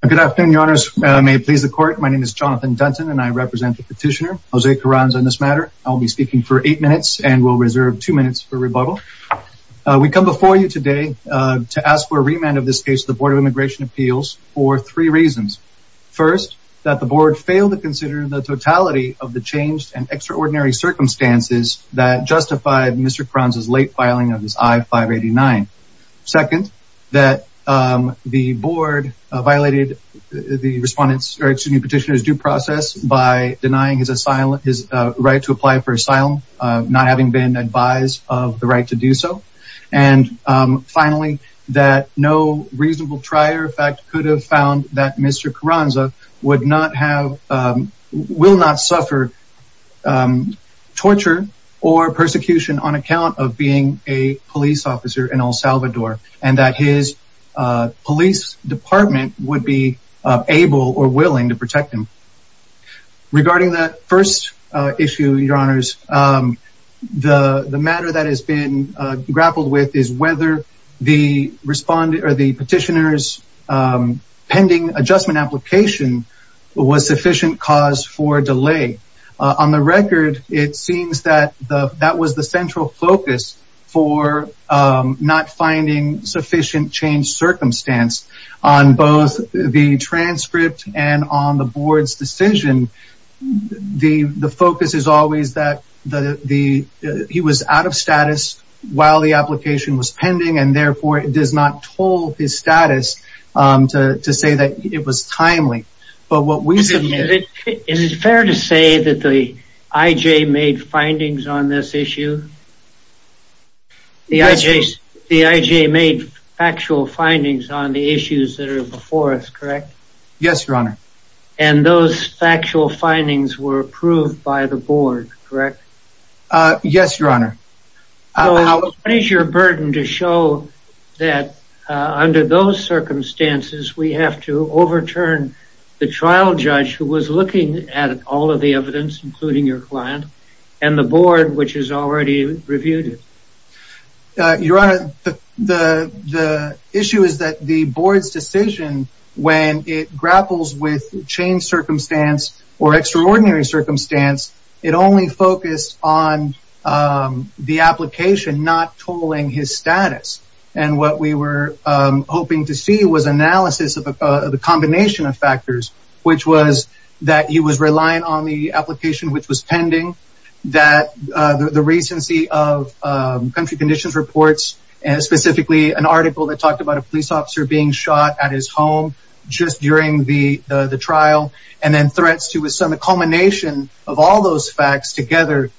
Good afternoon, your honors. May it please the court. My name is Jonathan Dunton and I represent the petitioner, Jose Carranza, in this matter. I'll be speaking for eight minutes and will reserve two minutes for rebuttal. We come before you today to ask for a remand of this case to the Board of Immigration Appeals for three reasons. First, that the board failed to consider the totality of the changed and extraordinary circumstances that justified Mr. Carranza's late Second, that the board violated the petitioner's due process by denying his right to apply for asylum, not having been advised of the right to do so. And finally, that no reasonable trier in fact could have found that Mr. Carranza would not have, will not suffer torture or persecution on account of being a police officer in El Salvador and that his police department would be able or willing to protect him. Regarding that first issue, your honors, the matter that has been grappled with is whether the respondent or the petitioner's pending adjustment application was sufficient cause for focus for not finding sufficient change circumstance on both the transcript and on the board's decision. The focus is always that he was out of status while the application was pending and therefore it does not toll his status to say that it was timely. But what we submit... Is it fair to say that the IJ made findings on this issue? The IJ made factual findings on the issues that are before us, correct? Yes, your honor. And those factual findings were approved by the board, correct? Yes, your honor. What is your burden to show that under those circumstances we have to overturn the trial judge who was looking at all of the evidence, including your client, and the board which has already reviewed it? Your honor, the issue is that the board's decision when it grapples with change circumstance or extraordinary circumstance, it only focused on the application not tolling his status. And what we were hoping to see was analysis of the combination of factors, which was that he was reliant on the application which was pending, that the recency of country conditions reports and specifically an article that talked about a police officer being shot at his home just during the the trial, and then threats to assume a culmination of all those facts together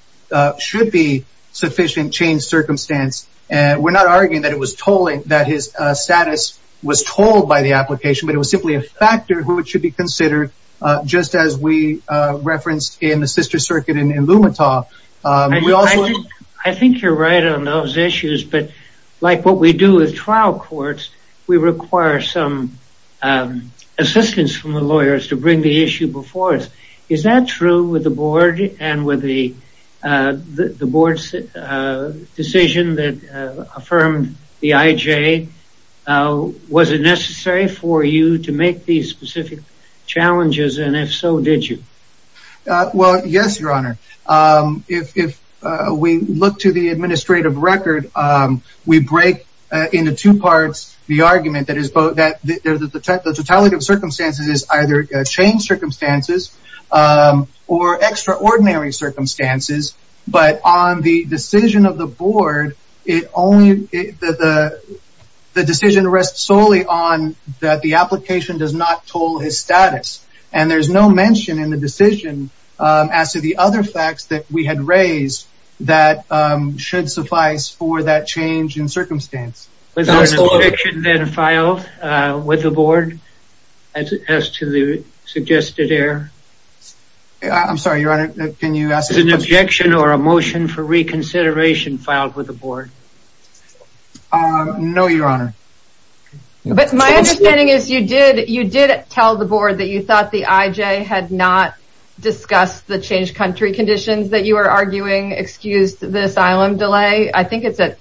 should be sufficient change circumstance. And we're not arguing that it was tolling, that his status was tolled by the application, but it was simply a factor who it should be considered, just as we referenced in the sister circuit in Lumetaw. I think you're right on those issues, but like what we do with trial courts, we require some assistance from the lawyers to bring the issue before us. Is that true with the board and with the board's decision that affirmed the IJ? Was it necessary for you to make these specific challenges, and if so, did you? Well, yes, your honor. If we look to the administrative record, we break into two parts the argument that is both that the totality of circumstances is either change circumstances or extraordinary circumstances, but on the decision of the board, the decision rests solely on that the application does not toll his status, and there's no mention in the decision as to the other facts that we had raised that should suffice for that change in circumstance. Was there an objection then filed with the board? No, your honor. But my understanding is you did tell the board that you thought the IJ had not discussed the changed country conditions that you are arguing excused the asylum delay. I think it's at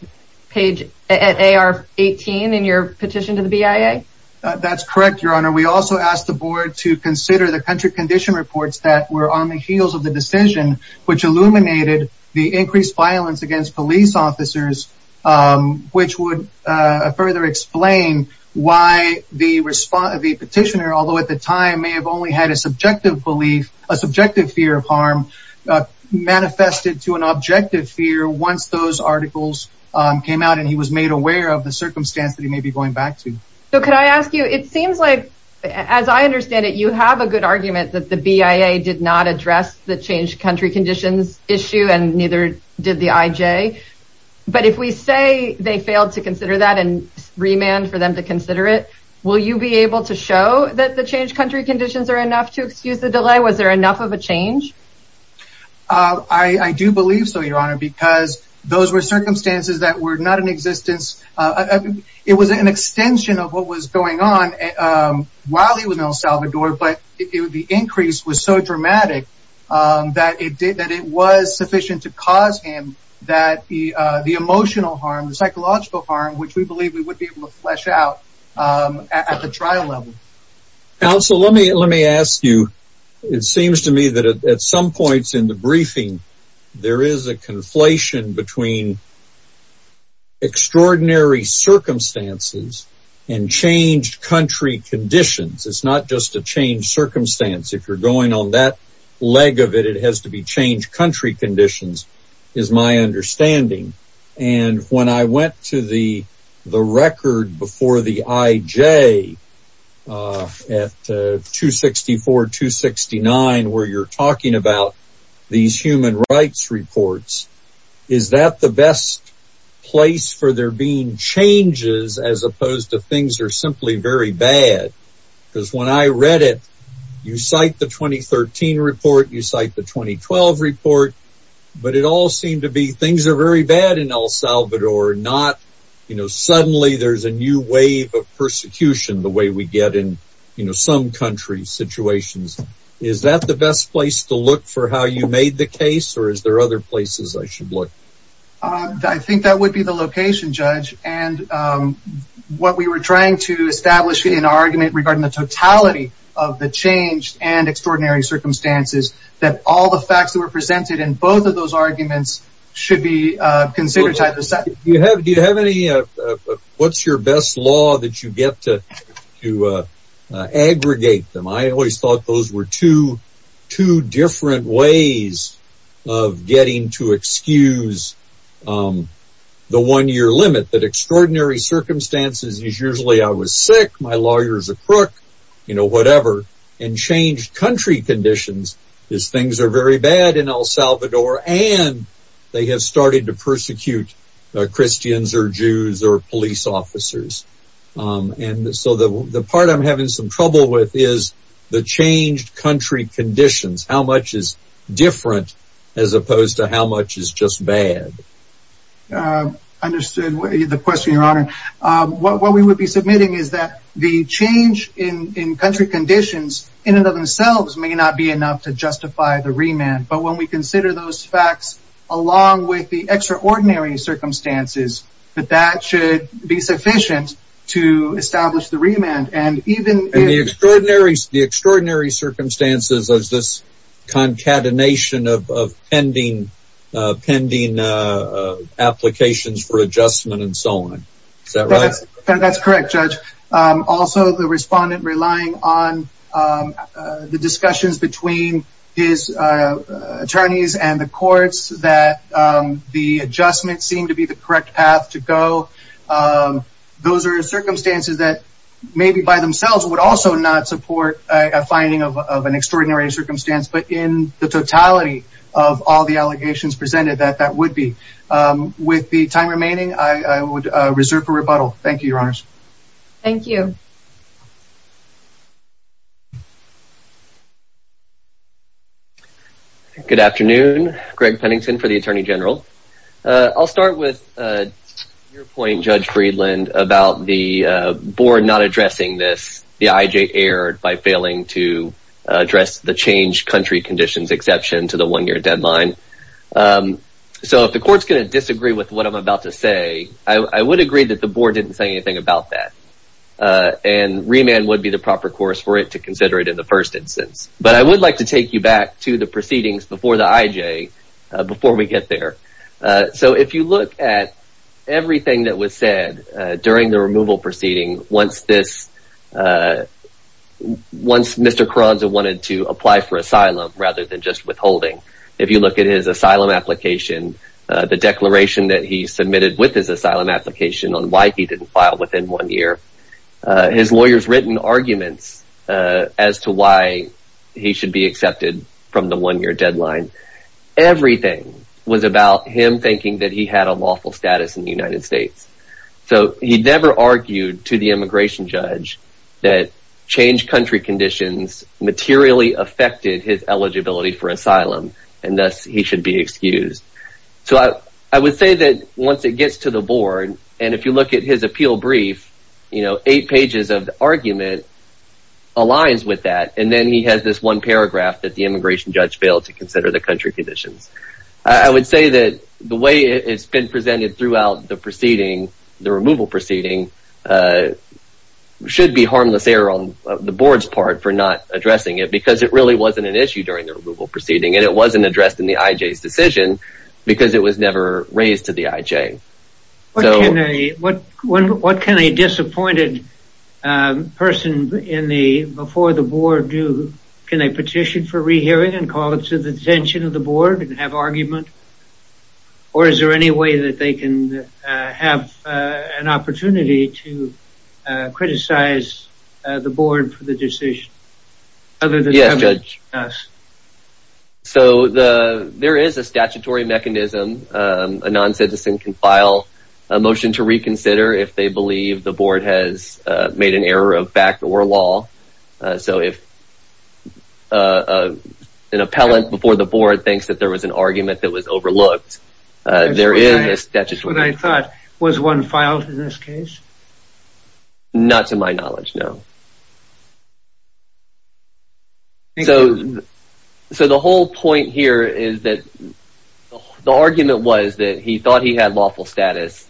page 18 in your petition to the BIA? That's correct, your honor. We also asked the board to consider the country condition reports that were on the heels of the decision, which illuminated the increased violence against police officers, which would further explain why the petitioner, although at the time may have only had a subjective belief, a subjective fear of harm, manifested to an objective fear once those articles came out and he was made aware of the circumstance that he may be going back to. So could I ask you, it seems like, as I understand it, you have a good argument that the BIA did not address the changed country conditions issue and neither did the IJ, but if we say they failed to consider that and remand for them to consider it, will you be able to show that the changed country conditions are enough to excuse the delay? Was there enough of a change? I do believe so, your honor, because those were circumstances that were not in existence. It was an extension of what was going on while he was in El Salvador, but the increase was so dramatic that it was sufficient to cause him the emotional harm, the psychological harm, which we believe we would be able to flesh out at the trial level. Counsel, let me ask you, it seems to me that at some points in the and changed country conditions, it's not just a changed circumstance. If you're going on that leg of it, it has to be changed country conditions, is my understanding. And when I went to the record before the IJ at 264-269, where you're talking about these human rights reports, is that the best place for there being changes as opposed to things are simply very bad? Because when I read it, you cite the 2013 report, you cite the 2012 report, but it all seemed to be things are very bad in El Salvador, not, you know, suddenly there's a new wave of persecution the way we get in, you know, some country situations. Is that the best place to look for how you made the case or is there other places I should look? I think that would be the location, Judge. And what we were trying to establish in an argument regarding the totality of the change and extraordinary circumstances, that all the facts that were presented in both of those arguments should be considered. Do you have any, what's your best law that you get to aggregate them? I always thought those were two different ways of getting to excuse the one-year limit, that extraordinary circumstances is usually I was sick, my lawyers a crook, you know, whatever, and changed country conditions is things are very bad in El Salvador and they have started to persecute Christians or Jews or police officers. And so the part I'm having some trouble with is the changed country conditions. How much is different as opposed to how much is just bad? I understood the question, Your Honor. What we would be submitting is that the change in country conditions in and of themselves may not be enough to justify the remand. But when we consider those facts along with the extraordinary circumstances, that that should be sufficient to establish the remand. And the extraordinary circumstances of this concatenation of pending applications for adjustment and so on. Is that right? That's correct, Judge. Also, the respondent relying on the discussions between his attorneys and the courts that the adjustments seem to be the correct path to go. Those are circumstances that maybe by themselves would also not support a finding of an the totality of all the allegations presented that that would be. With the time remaining, I would reserve for rebuttal. Thank you, Your Honors. Thank you. Good afternoon. Greg Pennington for the Attorney General. I'll start with your point, Judge Friedland, about the board not addressing this. The IJ erred by exception to the one-year deadline. So if the court's gonna disagree with what I'm about to say, I would agree that the board didn't say anything about that. And remand would be the proper course for it to consider it in the first instance. But I would like to take you back to the proceedings before the IJ, before we get there. So if you look at everything that was said during the removal proceeding, once this, once Mr. Carranza wanted to apply for asylum rather than just withholding, if you look at his asylum application, the declaration that he submitted with his asylum application on why he didn't file within one year, his lawyer's written arguments as to why he should be accepted from the one-year deadline. Everything was about him thinking that he had a lawful status in the immigration judge, that changed country conditions materially affected his eligibility for asylum, and thus he should be excused. So I would say that once it gets to the board, and if you look at his appeal brief, you know, eight pages of the argument aligns with that, and then he has this one paragraph that the immigration judge failed to consider the country conditions. I would say that the way it's been presented throughout the proceeding, the removal proceeding, should be harmless error on the board's part for not addressing it, because it really wasn't an issue during the removal proceeding, and it wasn't addressed in the IJ's decision, because it was never raised to the IJ. What can a disappointed person in the, before the board do, can they petition for rehearing and call it to the attention of the board and have argument, or is there any way that they can have an opportunity to criticize the board for the decision? Yes, Judge. So the, there is a statutory mechanism. A non-citizen can file a motion to reconsider if they believe the board has made an error of fact or law. So if an appellant before the board thinks that there was an argument that was overlooked, there is a statutory mechanism. That's what I thought. Was one filed in this case? Not to my knowledge, no. So, so the whole point here is that the argument was that he thought he had lawful status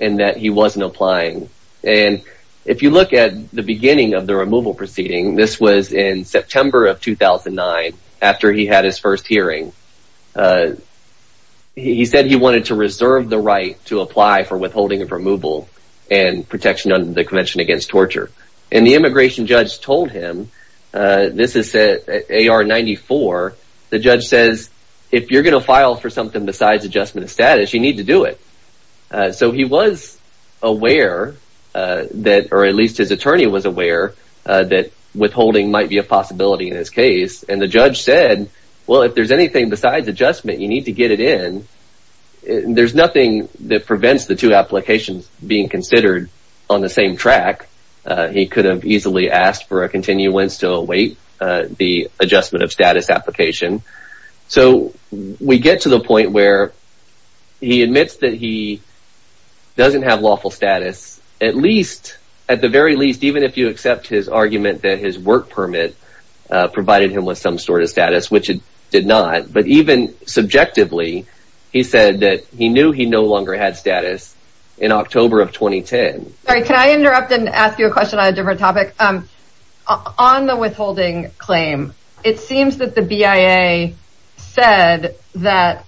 and that he wasn't applying, and if you look at the beginning of the removal proceeding, this was in September of 2009, after he had his first hearing. He said he wanted to reserve the right to apply for withholding of removal and protection under the Convention Against Torture, and the immigration judge told him, this is AR 94, the judge says if you're gonna file for something besides adjustment of status, you need to do it. So he was aware that, or at least his attorney was aware, that withholding might be a possibility in his case, and the judge said, well if there's anything besides adjustment, you need to get it in. There's nothing that prevents the two applications being considered on the same track. He could have easily asked for a continuance to await the adjustment of status application. So we get to the point where he admits that he doesn't have lawful status, at least, at the very least, even if you accept his argument that his work permit provided him with some sort of status, which it did not, but even subjectively, he said that he knew he no longer had status in October of 2010. Sorry, can I interrupt and ask you a question on a different topic? On the withholding claim, it seems that the BIA said that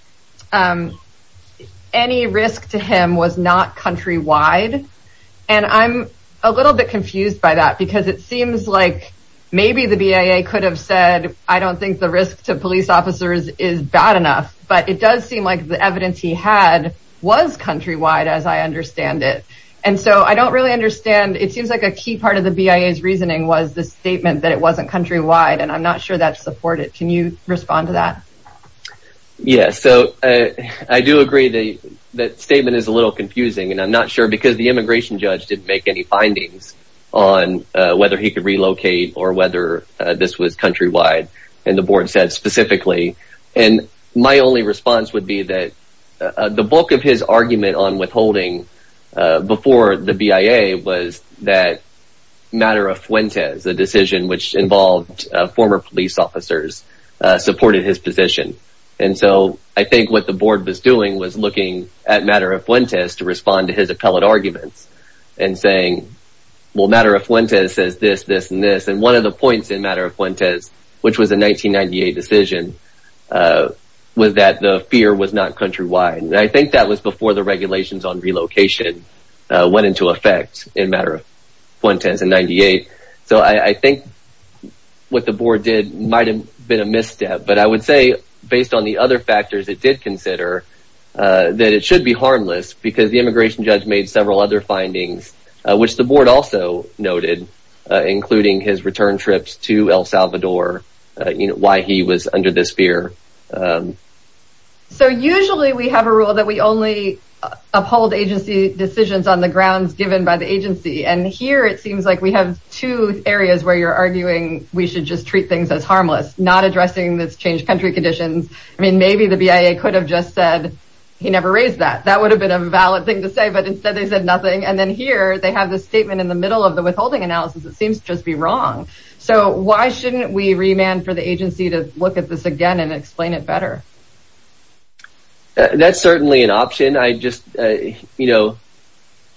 any risk to him was not countrywide, and I'm a little bit confused by that, because it seems like maybe the BIA could have said, I don't think the risk to police officers is bad enough, but it does seem like the evidence he had was countrywide, as I understand it, and so I don't really understand. It seems like a key part of the BIA's reasoning was the statement that it wasn't countrywide, and I'm not sure that's supported. Can you respond to that? Yes, so I do agree that that I'm not sure, because the immigration judge didn't make any findings on whether he could relocate or whether this was countrywide, and the board said specifically, and my only response would be that the bulk of his argument on withholding before the BIA was that Matter of Fuentes, a decision which involved former police officers, supported his position, and so I think what the board was doing was looking at Matter of Fuentes to respond to his appellate arguments and saying, well, Matter of Fuentes says this, this, and this, and one of the points in Matter of Fuentes, which was a 1998 decision, was that the fear was not countrywide, and I think that was before the regulations on relocation went into effect in Matter of Fuentes in 98, so I think what the board did might have been a misstep, but I would say based on the other factors, it did consider that it should be harmless, because the immigration judge made several other findings, which the board also noted, including his return trips to El Salvador, you know, why he was under this fear. So usually we have a rule that we only uphold agency decisions on the grounds given by the agency, and here it seems like we have two areas where you're arguing we should just treat things as harmless, not addressing this changed country conditions. I mean, maybe the BIA could have just said he never raised that. That would have been a valid thing to say, but instead they said nothing, and then here they have this statement in the middle of the withholding analysis that seems to just be wrong. So why shouldn't we remand for the agency to look at this again and explain it better? That's certainly an option. I just, you know,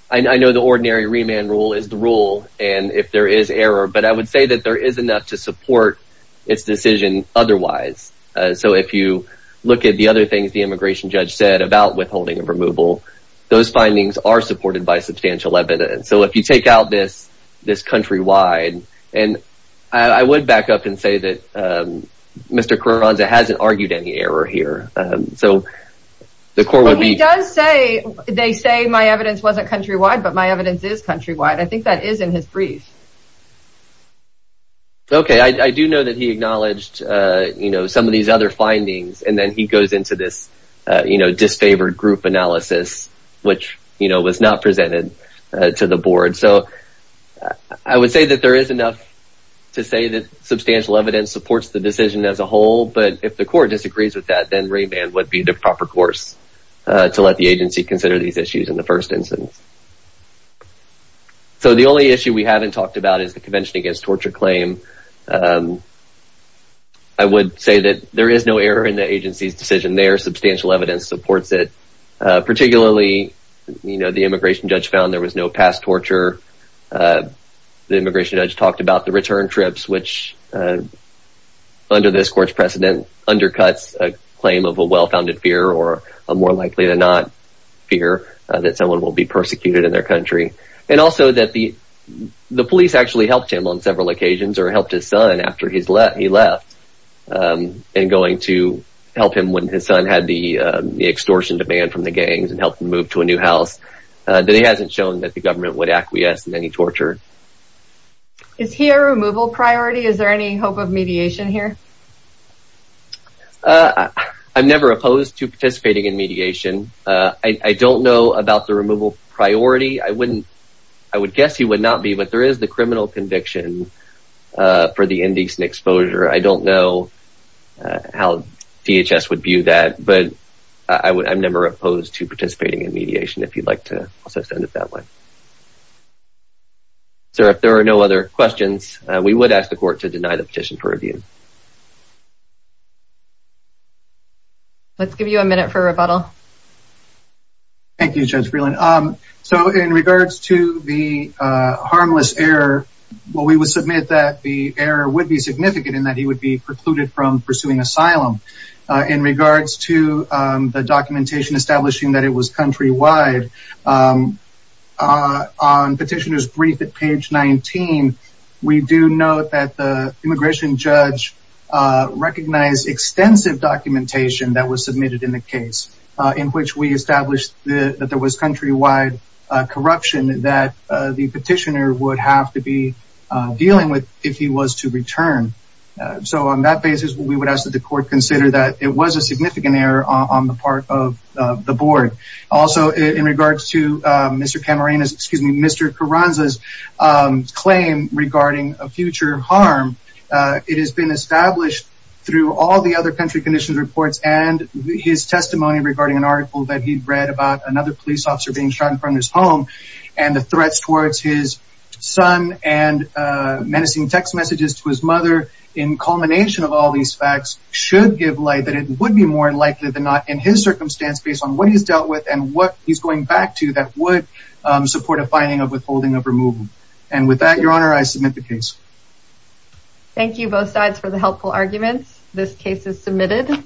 I know the ordinary remand rule is the rule, and if there is error, but I would say that there is enough to support its decision otherwise. So if you look at the other things the immigration judge said about withholding and removal, those findings are supported by substantial evidence. So if you take out this this countrywide, and I would back up and say that Mr. Carranza hasn't argued any error here, so the court would be... He does say, they say my evidence wasn't countrywide, but my Okay, I do know that he acknowledged, you know, some of these other findings, and then he goes into this, you know, disfavored group analysis, which, you know, was not presented to the board. So I would say that there is enough to say that substantial evidence supports the decision as a whole, but if the court disagrees with that, then remand would be the proper course to let the agency consider these issues in the first instance. So the only issue we haven't talked about is the Convention Against Torture claim. I would say that there is no error in the agency's decision there. Substantial evidence supports it. Particularly, you know, the immigration judge found there was no past torture. The immigration judge talked about the return trips, which, under this court's precedent, undercuts a claim of a well-founded fear, or a more likely than not fear, that someone will be persecuted in their country. And also that the police actually helped him on several occasions, or helped his son after he left, and going to help him when his son had the extortion demand from the gangs, and helped him move to a new house, that he hasn't shown that the government would acquiesce in any torture. Is he a removal priority? Is there any hope of mediation here? I'm never opposed to participating in mediation. I don't know about the removal priority. I wouldn't, I would guess he would not be, but there is a criminal conviction for the indecent exposure. I don't know how DHS would view that, but I would, I'm never opposed to participating in mediation, if you'd like to also send it that way. Sir, if there are no other questions, we would ask the court to deny the petition for review. Let's give you a minute for rebuttal. Thank you, Judge Freeland. So, in regards to the harmless error, well, we would submit that the error would be significant in that he would be precluded from pursuing asylum. In regards to the documentation establishing that it was countrywide, on petitioner's brief at page 19, we do note that the immigration judge recognized extensive documentation that was submitted in the case, in which we that the petitioner would have to be dealing with if he was to return. So, on that basis, we would ask that the court consider that it was a significant error on the part of the board. Also, in regards to Mr. Camarena's, excuse me, Mr. Carranza's claim regarding a future harm, it has been established through all the other country conditions reports and his testimony regarding an article that he and the threats towards his son and menacing text messages to his mother in culmination of all these facts should give light that it would be more likely than not in his circumstance based on what he's dealt with and what he's going back to that would support a finding of withholding of removal. And with that, Your Honor, I submit the case. Thank you both sides for the helpful arguments. This case is submitted.